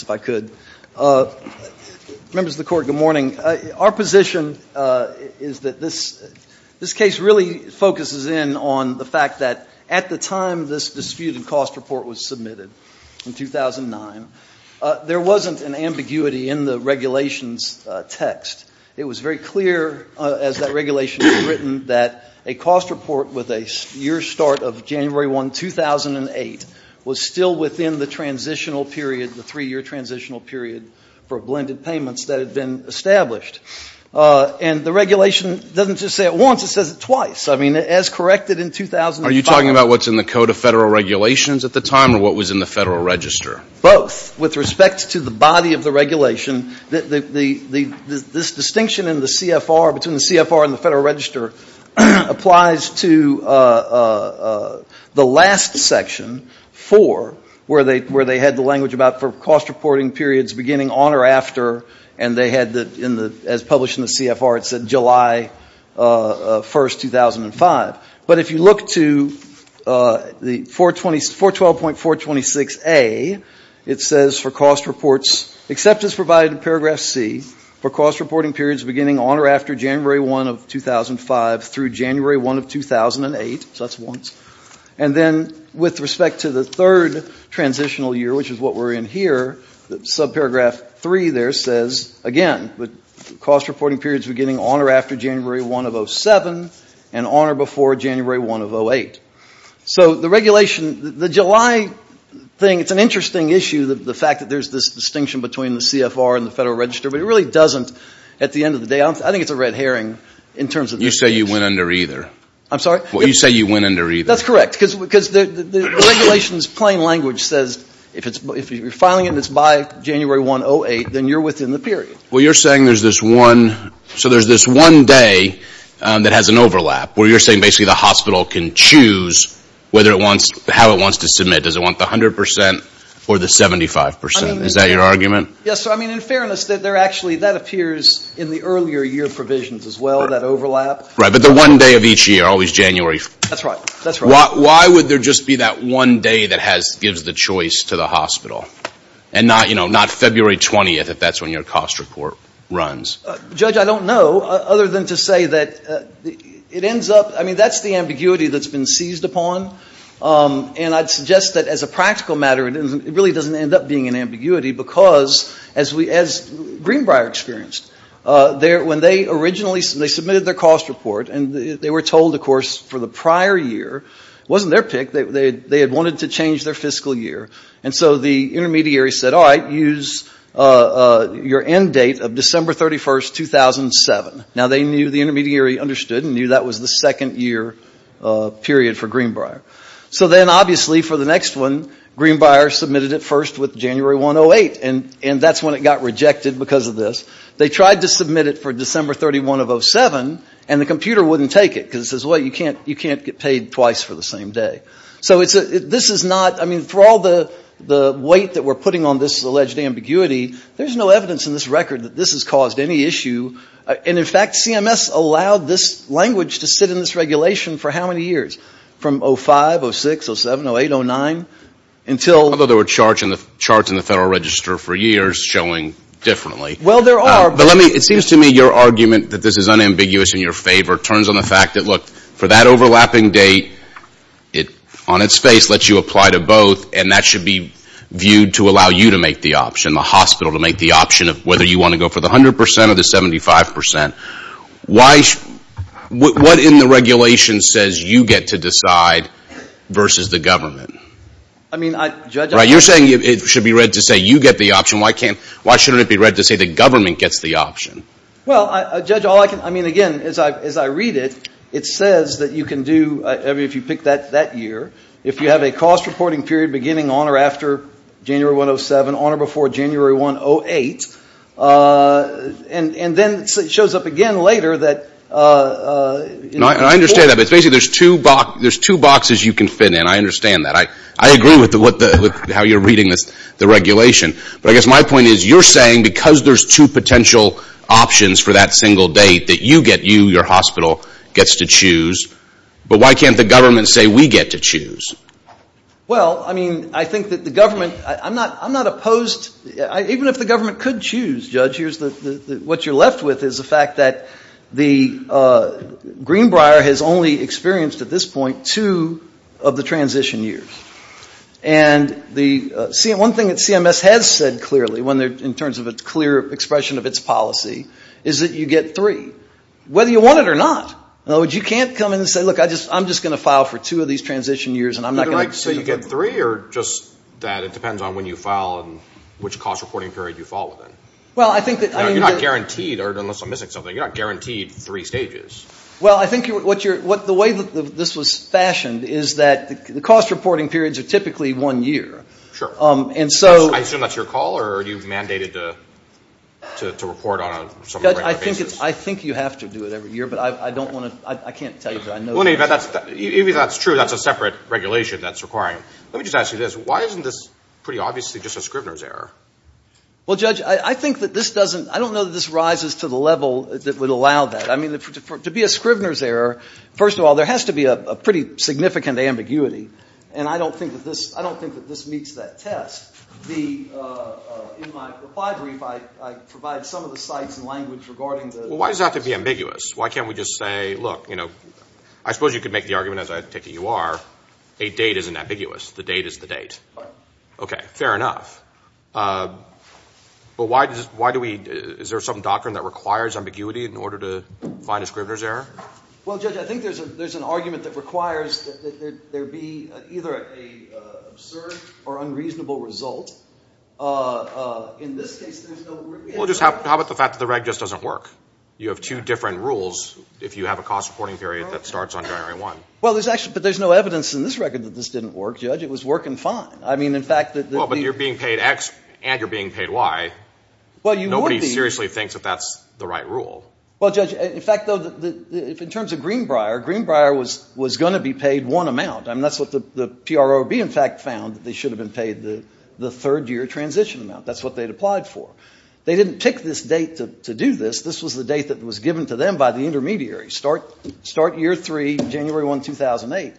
if I could. Members of the Court, good morning. Our position is that this case really focuses in on the fact that at the time this disputed cost report was submitted in 2009, there wasn't an ambiguity in the regulations text. It was very clear as that regulation was written that a cost report with a year start of January 1, 2008 was still within the transitional period, the three-year transitional period for blended payments that had been established. And the regulation doesn't just say it once, it says it twice. I mean, as corrected in 2005. Are you talking about what's in the Code of Federal Regulations at the time or what was in the Federal Register? Both. With respect to the body of the regulation, this distinction in the CFR, between the CFR and the Federal Register, applies to the last section, 4, where they had the language about for cost reporting periods beginning on or after, and they had, as published in the CFR, it said July 1, 2005. But if you look to the 412.426A, it says for cost reports except as provided in paragraph C, for cost reporting periods beginning on or after January 1 of 2005 through January 1 of 2008, so that's once. And then with respect to the third transitional year, which is what we're in here, subparagraph 3 there says, again, cost reporting periods beginning on or after January 1 of 2007 and on or before January 1 of 2008. So the regulation, the July thing, it's an interesting issue, the fact that there's this distinction between the CFR and the Federal Register, but it really doesn't at the end of the day. I think it's a red herring in terms of the distinction. You say you went under either. I'm sorry? Well, you say you went under either. That's correct. Because the regulation's plain language says if you're filing it and it's by January 1, 2008, then you're within the period. Well, you're saying there's this one, so there's this one day that has an overlap, where you're saying basically the hospital can choose whether it wants, how it wants to submit. Does it want the 100 percent or the 75 percent? Is that your argument? Yes, sir. I mean, in fairness, that there actually, that appears in the earlier year provisions as well, that overlap. Right, but the one day of each year, always January. That's right. That's right. Why would there just be that one day that gives the choice to the hospital and not, you know, not February 20th, if that's when your cost report runs? Judge, I don't know, other than to say that it ends up, I mean, that's the ambiguity that's been seized upon. And I'd suggest that as a practical matter, it really doesn't end up being an ambiguity because, as Greenbrier experienced, when they originally, they submitted their cost report, and they were told, of course, for the prior year, it wasn't their pick. They had wanted to change their fiscal year. And so the intermediary said, all right, use your end date of December 31st, 2007. Now, they knew, the intermediary understood and knew that was the second year period for Greenbrier. So then, obviously, for the next one, Greenbrier submitted it first with January 108, and that's when it got rejected because of this. They tried to submit it for December 31 of 07, and the computer wouldn't take it because it says, well, you can't get paid twice for the same day. So this is not, I mean, for all the weight that we're putting on this alleged ambiguity, there's no evidence in this record that this has caused any issue. And, in fact, CMS allowed this language to sit in this regulation for how many years? From 05, 06, 07, 08, 09, until. Although there were charts in the Federal Register for years showing differently. Well, there are. But let me, it seems to me your argument that this is unambiguous in your favor turns on the fact that, look, for that overlapping date, it, on its face, lets you apply to both, and that should be viewed to allow you to make the option, the hospital to make the option of whether you want to go for the 100% or the 75%. Why, what in the regulation says you get to decide versus the government? I mean, I, Judge. Right, you're saying it should be read to say you get the option. Why can't, why shouldn't it be read to say the government gets the option? Well, Judge, all I can, I mean, again, as I, as I read it, it says that you can do, I mean, if you pick that, that year, if you have a cost reporting period beginning on or after January 107, on or before January 108, and, and then it shows up again later that, you know, before. And I understand that. But it's basically there's two, there's two boxes you can fit in. I understand that. I, I agree with the, with the, with how you're reading this, the regulation. But I guess my point is you're saying because there's two potential options for that single date that you get you, your hospital gets to choose. But why can't the government say we get to choose? Well, I mean, I think that the government, I, I'm not, I'm not opposed. I, even if the government could choose, Judge, here's the, the, the, what you're left with is the fact that the Greenbrier has only experienced at this point two of the transition years. And the, see, one thing that CMS has said clearly when they're, in terms of a clear expression of its policy, is that you get three. Whether you want it or not. In other words, you can't come in and say, look, I just, I'm just going to file for two of these transition years, and I'm not going to. So you get three, or just that it depends on when you file and which cost reporting period you file within? Well, I think that, I mean. You're not guaranteed, or unless I'm missing something, you're not guaranteed three stages. Well, I think what you're, what the way that this was fashioned is that the cost reporting periods are typically one year. Sure. And so. I assume that's your call, or are you mandated to, to, to report on a regular basis? I think you have to do it every year, but I don't want to, I can't tell you, but I know. Well, in any event, that's, even if that's true, that's a separate regulation that's requiring. Let me just ask you this. Why isn't this pretty obviously just a Scribner's error? Well, Judge, I think that this doesn't, I don't know that this rises to the level that would allow that. I mean, to be a Scribner's error, first of all, there has to be a pretty significant ambiguity, and I don't think that this, I don't think that this meets that test. The, in my reply brief, I, I provide some of the sites and language regarding the. Well, why does it have to be ambiguous? Why can't we just say, look, you know, I suppose you could make the argument, as I take it you are, a date isn't ambiguous. The date is the date. Right. Okay. Fair enough. But why does, why do we, is there some doctrine that requires ambiguity in order to find a Scribner's error? Well, Judge, I think there's a, there's an argument that requires that there be either an absurd or unreasonable result. In this case, there's no. Well, just how, how about the fact that the reg just doesn't work? You have two different rules if you have a cost reporting period that starts on January 1. Well, there's actually, but there's no evidence in this record that this didn't work, Judge. It was working fine. I mean, in fact, that the. Well, but you're being paid X and you're being paid Y. Well, you would be. Nobody seriously thinks that that's the right rule. Well, Judge, in fact, though, in terms of Greenbrier, Greenbrier was, was going to be paid one amount. I mean, that's what the, the PROB, in fact, found. They should have been paid the, the third year transition amount. That's what they'd applied for. They didn't pick this date to, to do this. This was the date that was given to them by the intermediary. Start, start year three, January 1, 2008.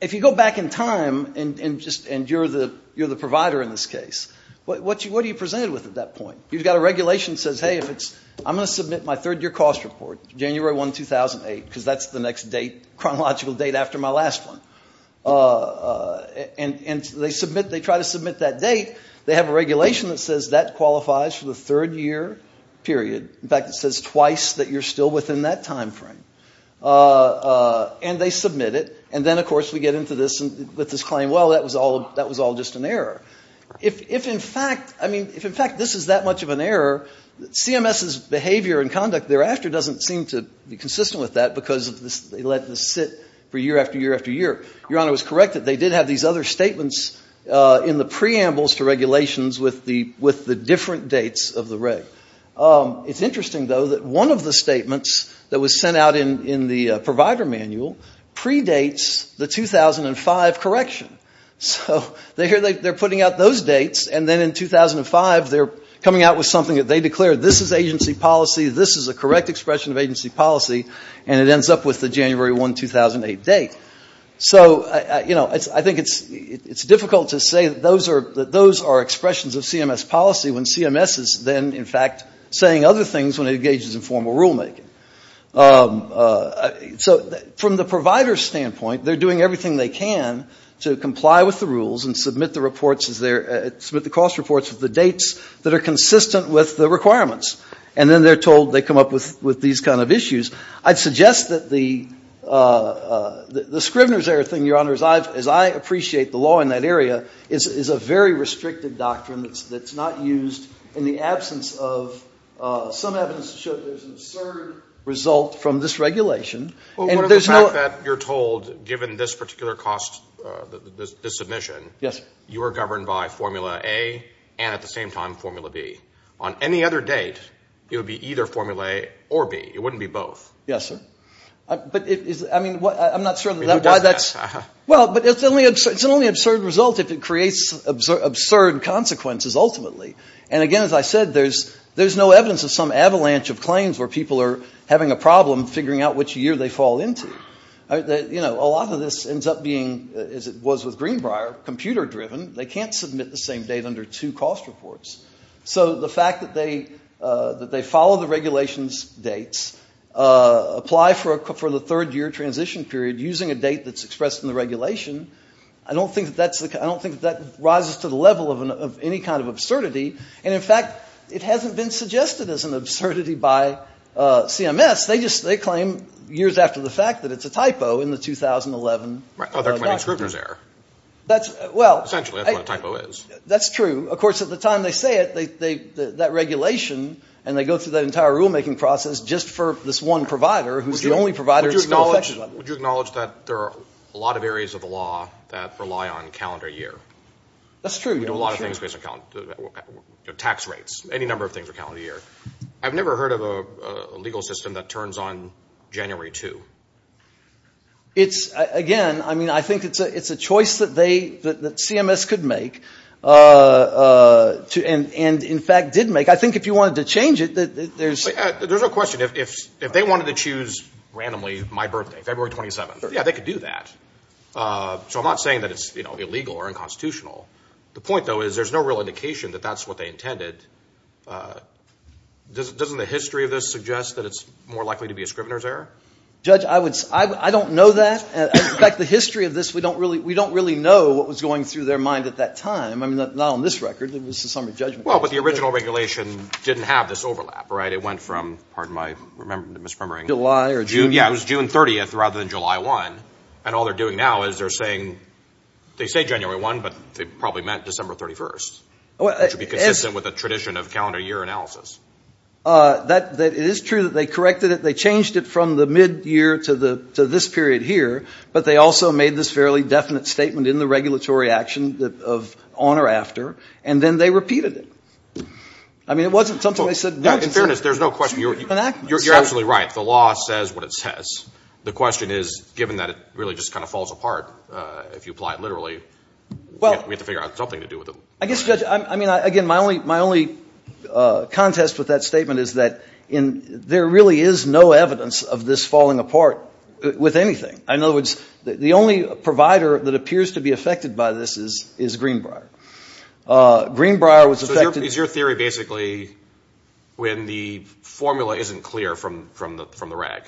If you go back in time and, and just, and you're the, you're the provider in this case, what, what do you, what are you presented with at that point? You've got a regulation that says, hey, if it's, I'm going to submit my third year cost report, January 1, 2008, because that's the next date, chronological date after my last one. And, and they submit, they try to submit that date. They have a regulation that says that qualifies for the third year period. In fact, it says twice that you're still within that time frame. And they submit it. And then, of course, we get into this and, with this claim, well, that was all, that was all just an error. If, if in fact, I mean, if in fact this is that much of an error, CMS's behavior and conduct thereafter doesn't seem to be consistent with that, because of this, they let this sit for year after year after year. Your Honor was correct that they did have these other statements in the preambles to regulations with the, with the different dates of the reg. It's interesting, though, that one of the statements that was sent out in, in the provider manual predates the 2005 correction. So, they're, they're putting out those dates, and then in 2005, they're coming out with something that they declared, this is agency policy, this is a correct expression of agency policy, and it ends up with the January 1, 2008 date. So, you know, I think it's, it's difficult to say that those are, are expressions of CMS policy when CMS is then, in fact, saying other things when it engages in formal rulemaking. So, from the provider's standpoint, they're doing everything they can to comply with the rules and submit the reports as they're, submit the cost reports with the dates that are consistent with the requirements. And then they're told they come up with, with these kind of issues. I'd suggest that the, the Scrivener's error thing, Your Honor, as I've, I appreciate the law in that area, is, is a very restricted doctrine that's, that's not used in the absence of some evidence to show that there's an absurd result from this regulation. And there's no. Well, what about the fact that you're told, given this particular cost, this, this submission. Yes, sir. You are governed by formula A, and at the same time, formula B. On any other date, it would be either formula A or B. It wouldn't be both. Yes, sir. But it is, I mean, what, I'm not sure that that, why that's. Well, but it's the only, it's the only absurd result if it creates absurd consequences ultimately. And again, as I said, there's, there's no evidence of some avalanche of claims where people are having a problem figuring out which year they fall into. You know, a lot of this ends up being, as it was with Greenbrier, computer driven. They can't submit the same date under two cost reports. So the fact that they, that they follow the regulations dates, apply for a, for the third year transition period using a date that's expressed in the regulation. I don't think that's the, I don't think that rises to the level of any kind of absurdity. And in fact, it hasn't been suggested as an absurdity by CMS. They just, they claim years after the fact that it's a typo in the 2011. Right, well, they're claiming Scribner's error. That's, well. Essentially, that's what a typo is. That's true. Of course, at the time they say it, they, they, that regulation, and they go through that entire rulemaking process just for this one provider who's the only provider. Would you acknowledge, would you acknowledge that there are a lot of areas of the law that rely on calendar year? That's true, yeah. We do a lot of things based on calendar, you know, tax rates. Any number of things are calendar year. I've never heard of a legal system that turns on January 2. It's, again, I mean, I think it's a, it's a choice that they, that, that CMS could make to, and, and in fact did make. I think if you wanted to change it, there's. There's no question. If, if, if they wanted to choose randomly my birthday, February 27th, yeah, they could do that. So I'm not saying that it's, you know, illegal or unconstitutional. The point, though, is there's no real indication that that's what they intended. Doesn't the history of this suggest that it's more likely to be a Scribner's error? Judge, I would, I don't know that. In fact, the history of this, we don't really, we don't really know what was going through their mind at that time. I mean, not on this record. It was the summary judgment. Well, but the original regulation didn't have this overlap, right? It went from, pardon my, remembering, misremembering. July or June. Yeah, it was June 30th rather than July 1. And all they're doing now is they're saying, they say January 1, but they probably meant December 31st. Which would be consistent with the tradition of calendar year analysis. That, that, it is true that they corrected it. They changed it from the mid-year to the, to this period here. But they also made this fairly definite statement in the regulatory action of on or after. And then they repeated it. I mean, it wasn't something they said, no, it's true. In fairness, there's no question, you're absolutely right. The law says what it says. The question is, given that it really just kind of falls apart, if you apply it literally, we have to figure out something to do with it. I guess, Judge, I mean, again, my only, my only contest with that statement is that in, there really is no evidence of this falling apart with anything. In other words, the only provider that appears to be affected by this is Greenbrier. Greenbrier was affected. So is your theory basically when the formula isn't clear from the reg,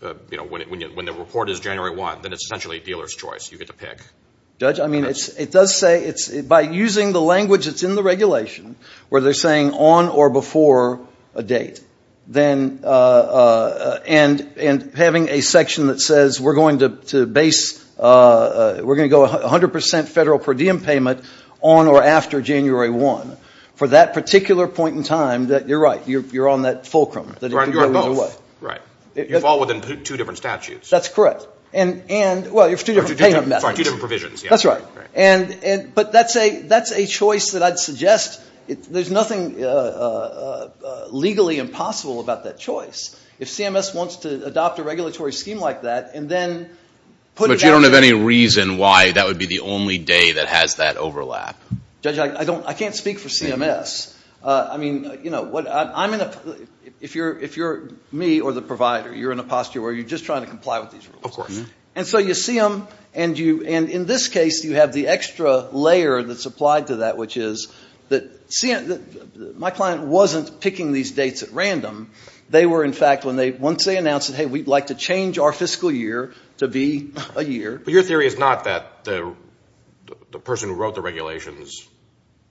you know, when the report is January 1, then it's essentially a dealer's choice. You get to pick. Judge, I mean, it does say, by using the language that's in the regulation, where they're saying on or before a date, then, and having a section that says, we're going to base, we're going to go 100% federal per diem payment on or after January 1. For that particular point in time, you're right, you're on that fulcrum. You're on both. Right. You fall within two different statutes. That's correct. And, well, you have two different payment methods. Sorry, two different provisions. That's right. And, but that's a, that's a choice that I'd suggest, there's nothing legally impossible about that choice. If CMS wants to adopt a regulatory scheme like that, and then put it out there. But you don't have any reason why that would be the only day that has that overlap. Judge, I don't, I can't speak for CMS. I mean, you know, what, I'm in a, if you're, if you're me or the provider, you're in a posture where you're just trying to comply with these rules. Of course. And so you see them, and you, and in this case, you have the extra layer that's applied to that, which is that my client wasn't picking these dates at random. They were, in fact, when they, once they announced it, hey, we'd like to change our fiscal year to be a year. But your theory is not that the, the person who wrote the regulations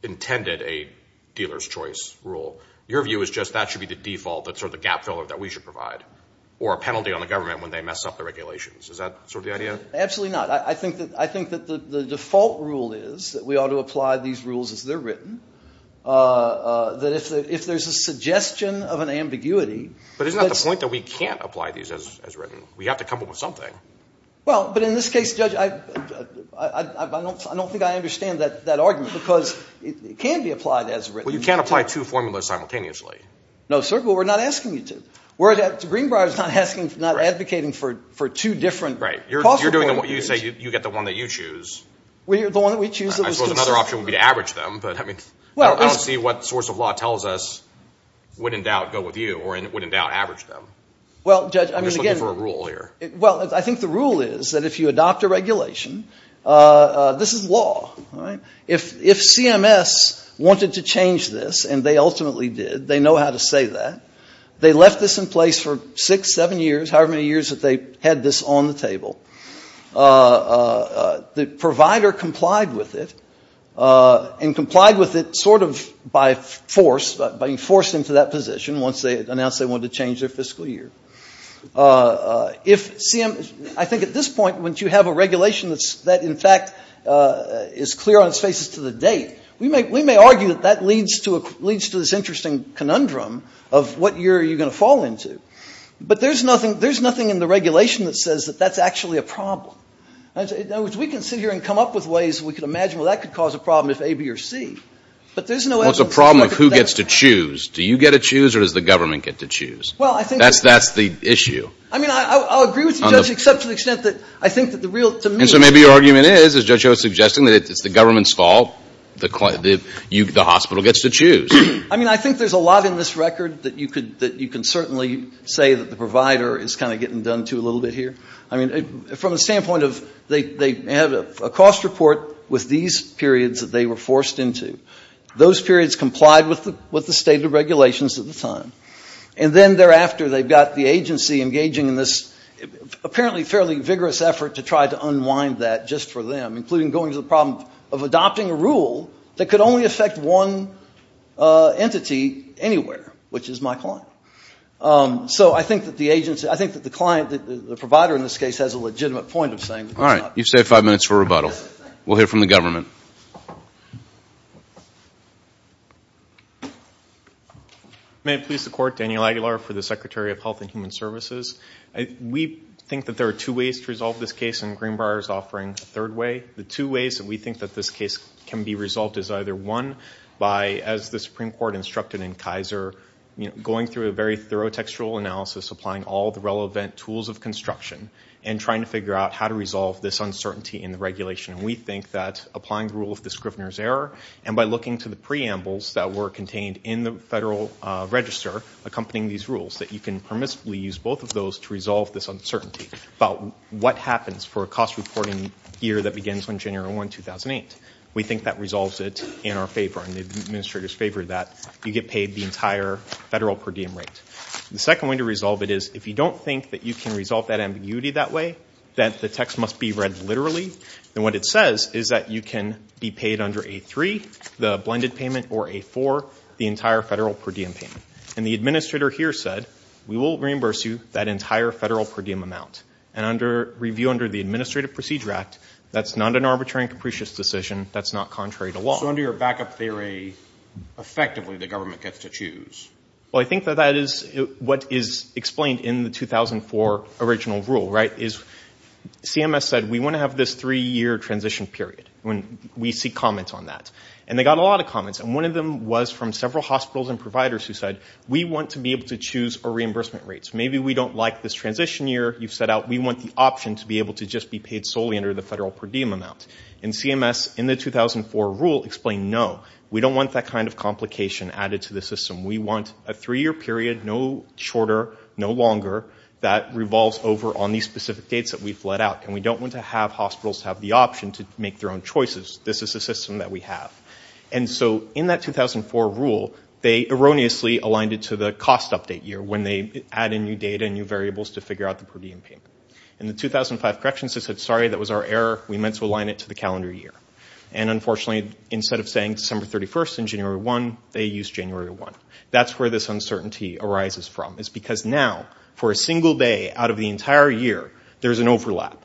intended a dealer's choice rule. Your view is just that should be the default, that sort of the gap filler that we should provide. Or a penalty on the government when they mess up the regulations. Is that sort of the idea? Absolutely not. I, I think that, I think that the, the default rule is that we ought to apply these rules as they're written. That if the, if there's a suggestion of an ambiguity. But it's not the point that we can't apply these as, as written. We have to come up with something. Well, but in this case, Judge, I, I, I, I don't, I don't think I understand that, that argument. Because it can be applied as written. Well, you can't apply two formulas simultaneously. No, sir. But we're not asking you to. We're, Greenbrier's not asking, not advocating for, for two different. Right. You're, you're doing what you say, you, you get the one that you choose. We, the one that we choose. I suppose another option would be to average them. But, I mean, I don't, I don't see what source of law tells us would in doubt go with you. Or would in doubt average them. Well, Judge, I mean, again. I'm just looking for a rule here. Well, I think the rule is that if you adopt a regulation, this is law, all right? If, if CMS wanted to change this, and they ultimately did, they know how to say that. They left this in place for six, seven years, however many years that they had this on the table. The provider complied with it, and complied with it sort of by force, by being forced into that position once they announced they wanted to change their fiscal year. If CMS, I think at this point, once you have a regulation that's, that in fact is clear on its faces to the date. We may, we may argue that that leads to a, leads to this interesting conundrum of what year are you going to fall into. But there's nothing, there's nothing in the regulation that says that that's actually a problem. In other words, we can sit here and come up with ways we can imagine, well, that could cause a problem if A, B, or C. But there's no evidence. Well, it's a problem of who gets to choose. Do you get to choose, or does the government get to choose? Well, I think. That's, that's the issue. I mean, I, I'll agree with you, Judge, except to the extent that I think that the real, to me. And so maybe your argument is, as Judge O is suggesting, that it's the government's fault. The, the hospital gets to choose. I mean, I think there's a lot in this record that you could, that you can certainly say that the provider is kind of getting done to a little bit here. I mean, from the standpoint of, they, they have a cost report with these periods that they were forced into. Those periods complied with the, with the state of regulations at the time. And then thereafter, they've got the agency engaging in this apparently fairly vigorous effort to try to unwind that just for them. Including going to the problem of adopting a rule that could only affect one entity anywhere, which is my client. So I think that the agency, I think that the client, the provider in this case has a legitimate point of saying. All right, you've saved five minutes for rebuttal. We'll hear from the government. May it please the court, Daniel Aguilar for the Secretary of Health and Human Services. We think that there are two ways to resolve this case, and Greenbrier's offering a third way. The two ways that we think that this case can be resolved is either one by, as the Supreme Court instructed in Kaiser. You know, going through a very thorough textual analysis, applying all the relevant tools of construction. And trying to figure out how to resolve this uncertainty in the regulation. And we think that applying the rule of the Scrivener's Error. And by looking to the preambles that were contained in the federal register, accompanying these rules, that you can permissibly use both of those to resolve this uncertainty. About what happens for a cost reporting year that begins on January 1, 2008. We think that resolves it in our favor, in the administrator's favor, that you get paid the entire federal per diem rate. The second way to resolve it is, if you don't think that you can resolve that ambiguity that way, that the text must be read literally. Then what it says is that you can be paid under A3, the blended payment, or A4, the entire federal per diem payment. And the administrator here said, we will reimburse you that entire federal per diem amount. And under review under the Administrative Procedure Act, that's not an arbitrary and capricious decision. That's not contrary to law. So under your backup theory, effectively the government gets to choose. Well, I think that that is what is explained in the 2004 original rule, right? Is CMS said we want to have this three year transition period. When we see comments on that. And they got a lot of comments. And one of them was from several hospitals and providers who said, we want to be able to choose our reimbursement rates. Maybe we don't like this transition year you've set out. We want the option to be able to just be paid solely under the federal per diem amount. And CMS, in the 2004 rule, explained no. We don't want that kind of complication added to the system. We want a three year period, no shorter, no longer, that revolves over on these specific dates that we've let out. And we don't want to have hospitals have the option to make their own choices. This is a system that we have. And so in that 2004 rule, they erroneously aligned it to the cost update year, when they add in new data and new variables to figure out the per diem payment. In the 2005 corrections, they said, sorry, that was our error. We meant to align it to the calendar year. And unfortunately, instead of saying December 31st and January 1, they used January 1. That's where this uncertainty arises from. It's because now, for a single day out of the entire year, there's an overlap.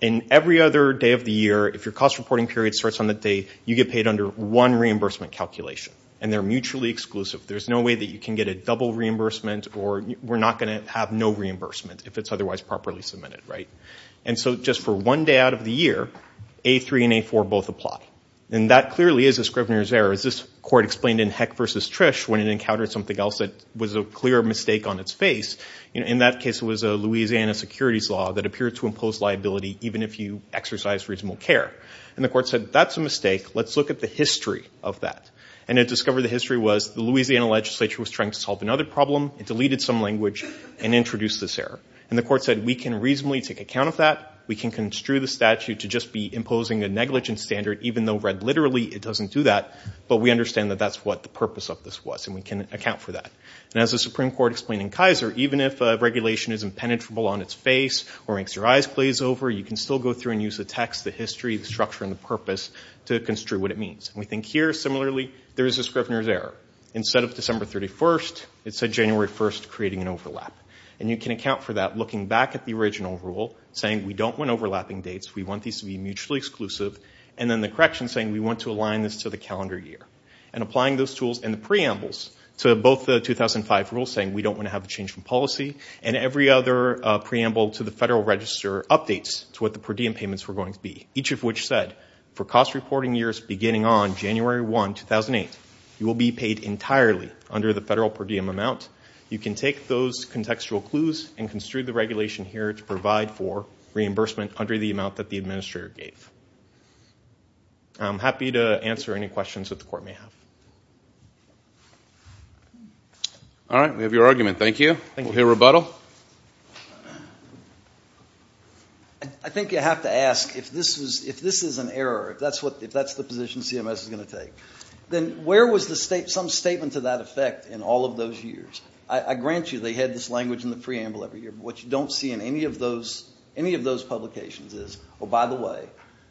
And every other day of the year, if your cost reporting period starts on that day, you get paid under one reimbursement calculation. And they're mutually exclusive. There's no way that you can get a double reimbursement, or we're not going to have no reimbursement, if it's otherwise properly submitted, right? And so just for one day out of the year, A3 and A4 both apply. And that clearly is a Scrivener's error, as this court explained in Heck versus Trish, when it encountered something else that was a clear mistake on its face. In that case, it was a Louisiana securities law that appeared to impose liability, even if you exercise reasonable care. And the court said, that's a mistake. Let's look at the history of that. And it discovered the history was the Louisiana legislature was trying to solve another problem. It deleted some language and introduced this error. And the court said, we can reasonably take account of that. We can construe the statute to just be imposing a negligence standard, even though read literally, it doesn't do that. But we understand that that's what the purpose of this was. And we can account for that. And as the Supreme Court explained in Kaiser, even if a regulation is impenetrable on its face or makes your eyes glaze over, you can still go through and use the text, the history, the structure, and the purpose to construe what it means. We think here, similarly, there is a Scrivener's error. Instead of December 31st, it said January 1st, creating an overlap. And you can account for that looking back at the original rule, saying we don't want overlapping dates. We want these to be mutually exclusive. And then the correction saying we want to align this to the calendar year. And applying those tools and the preambles to both the 2005 rules, saying we don't want to have a change in policy. And every other preamble to the Federal Register updates to what the per diem payments were going to be. Each of which said, for cost reporting years beginning on January 1, 2008, you will be paid entirely under the Federal per diem amount. You can take those contextual clues and construe the regulation here to provide for reimbursement under the amount that the administrator gave. I'm happy to answer any questions that the court may have. All right, we have your argument. Thank you. We'll hear rebuttal. I think you have to ask, if this is an error, if that's the position CMS is going to take, then where was some statement to that effect in all of those years? I grant you they had this language in the preamble every year. But what you don't see in any of those publications is, oh, by the way,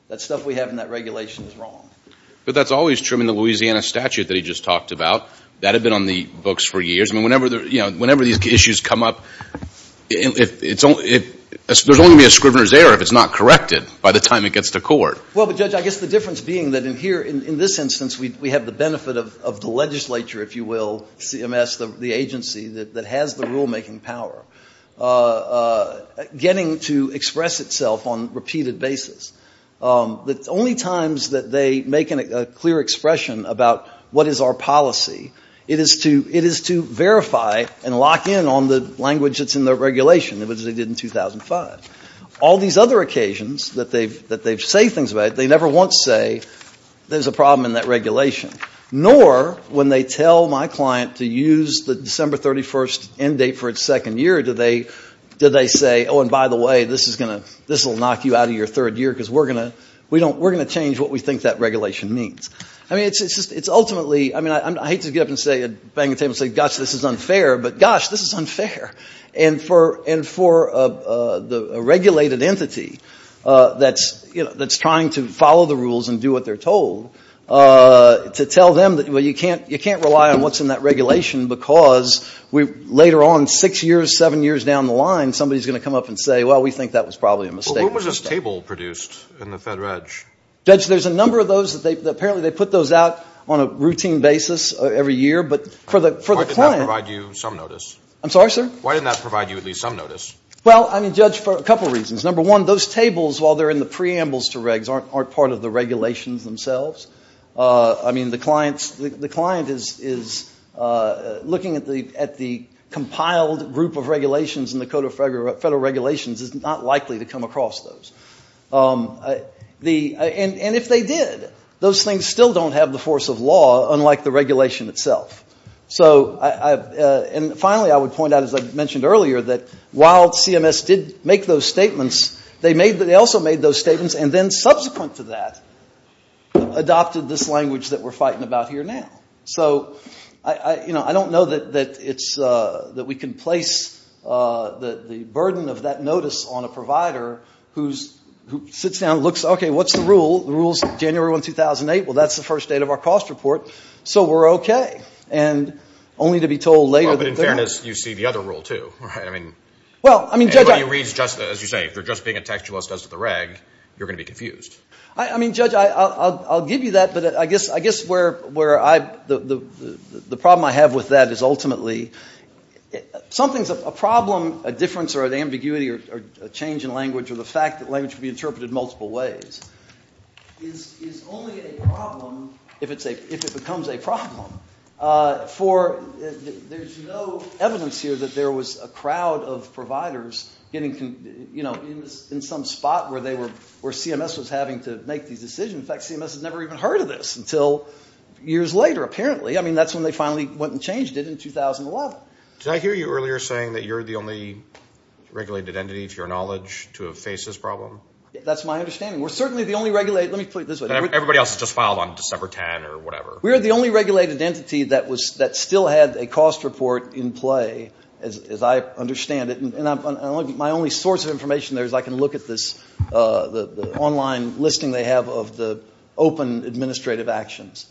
that stuff we have in that regulation is wrong. But that's always true. I mean, the Louisiana statute that he just talked about, that had been on the books for years. I mean, whenever these issues come up, there's only going to be a scrivener's error if it's not corrected by the time it gets to court. Well, but Judge, I guess the difference being that in here, in this instance, we have the benefit of the legislature, if you will, CMS, the agency that has the rulemaking power, getting to express itself on repeated basis. The only times that they make a clear expression about what is our policy, it is to verify and lock in on the language that's in the regulation, which they did in 2005. All these other occasions that they say things about it, they never once say there's a problem in that regulation. Nor when they tell my client to use the December 31st end date for its second year, do they say, oh, and by the way, this will knock you out of your third year because we're going to change what we think that regulation means. I mean, it's ultimately, I mean, I hate to get up and bang the table and say, gosh, this is unfair, but gosh, this is unfair. And for a regulated entity that's trying to follow the rules and do what they're told, to tell them that, well, you can't rely on what's in that regulation because later on, six years, seven years down the line, somebody's going to come up and say, well, we think that was probably a mistake. When was this table produced in the Fed Reg? Judge, there's a number of those that they, apparently, they put those out on a routine basis every year. But for the client. Why didn't that provide you some notice? I'm sorry, sir? Why didn't that provide you at least some notice? Well, I mean, Judge, for a couple of reasons. Number one, those tables, while they're in the preambles to regs, aren't part of the regulations themselves. I mean, the client is looking at the compiled group of regulations in the Code of Federal Regulations is not likely to come across those. And if they did, those things still don't have the force of law, unlike the regulation itself. So, and finally, I would point out, as I mentioned earlier, that while CMS did make those statements, they also made those statements and then subsequent to that, adopted this language that we're fighting about here now. So, you know, I don't know that it's, that we can place the burden of that notice on a provider who sits down and looks, okay, what's the rule? The rule's January 1, 2008. Well, that's the first date of our cost report. So, we're okay. And only to be told later that they're not. Well, but in fairness, you see the other rule, too, right? I mean, anybody who reads just, as you say, if they're just being a textualist as to the reg, you're going to be confused. I mean, Judge, I'll give you that. But I guess where I, the problem I have with that is ultimately, something's, a problem, a difference or an ambiguity or a change in language or the fact that language can be interpreted multiple ways is only a problem if it's a, if it becomes a problem for, there's no evidence here that there was a crowd of providers getting, you know, in some spot where they were, where CMS was having to make these decisions. In fact, CMS has never even heard of this until years later, apparently. I mean, that's when they finally went and changed it in 2011. Did I hear you earlier saying that you're the only regulated entity to your knowledge to have faced this problem? That's my understanding. We're certainly the only regulated, let me put it this way. Everybody else has just filed on December 10 or whatever. We're the only regulated entity that was, that still had a cost report in play, as I understand it. And I'm, my only source of information there is I can look at this, the online listing they have of the open administrative actions.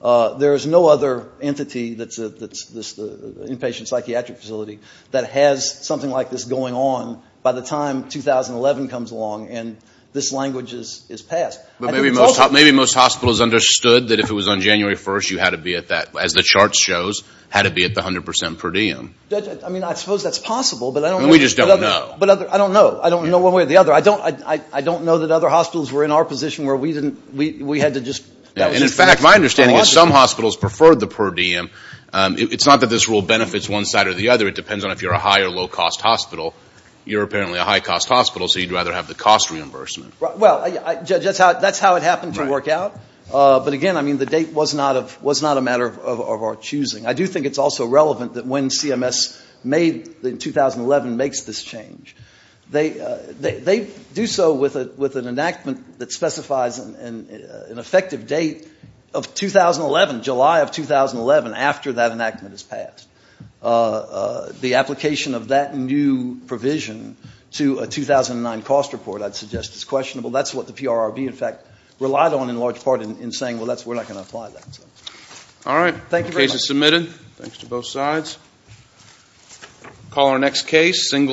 There is no other entity that's, that's this, the inpatient psychiatric facility that has something like this going on by the time 2011 comes along and this language is passed. I think it's also. Maybe most hospitals understood that if it was on January 1st, you had to be at that, as the chart shows, had to be at the 100 percent per diem. I mean, I suppose that's possible, but I don't know. We just don't know. But I don't know. I don't know one way or the other. I don't, I don't know that other hospitals were in our position where we didn't, we had to just. And in fact, my understanding is some hospitals preferred the per diem. It's not that this rule benefits one side or the other. It depends on if you're a high or low cost hospital. You're apparently a high cost hospital, so you'd rather have the cost reimbursement. Well, that's how it happened to work out. But again, I mean, the date was not a matter of our choosing. I do think it's also relevant that when CMS made, in 2011, makes this change. They do so with an enactment that specifies an effective date of 2011, July of 2011, after that enactment is passed. The application of that new provision to a 2009 cost report, I'd suggest, is questionable. That's what the PRRB, in fact, relied on in large part in saying, well, that's, we're not going to apply that. All right. Thank you very much. Case is submitted. Thanks to both sides. Call our next case.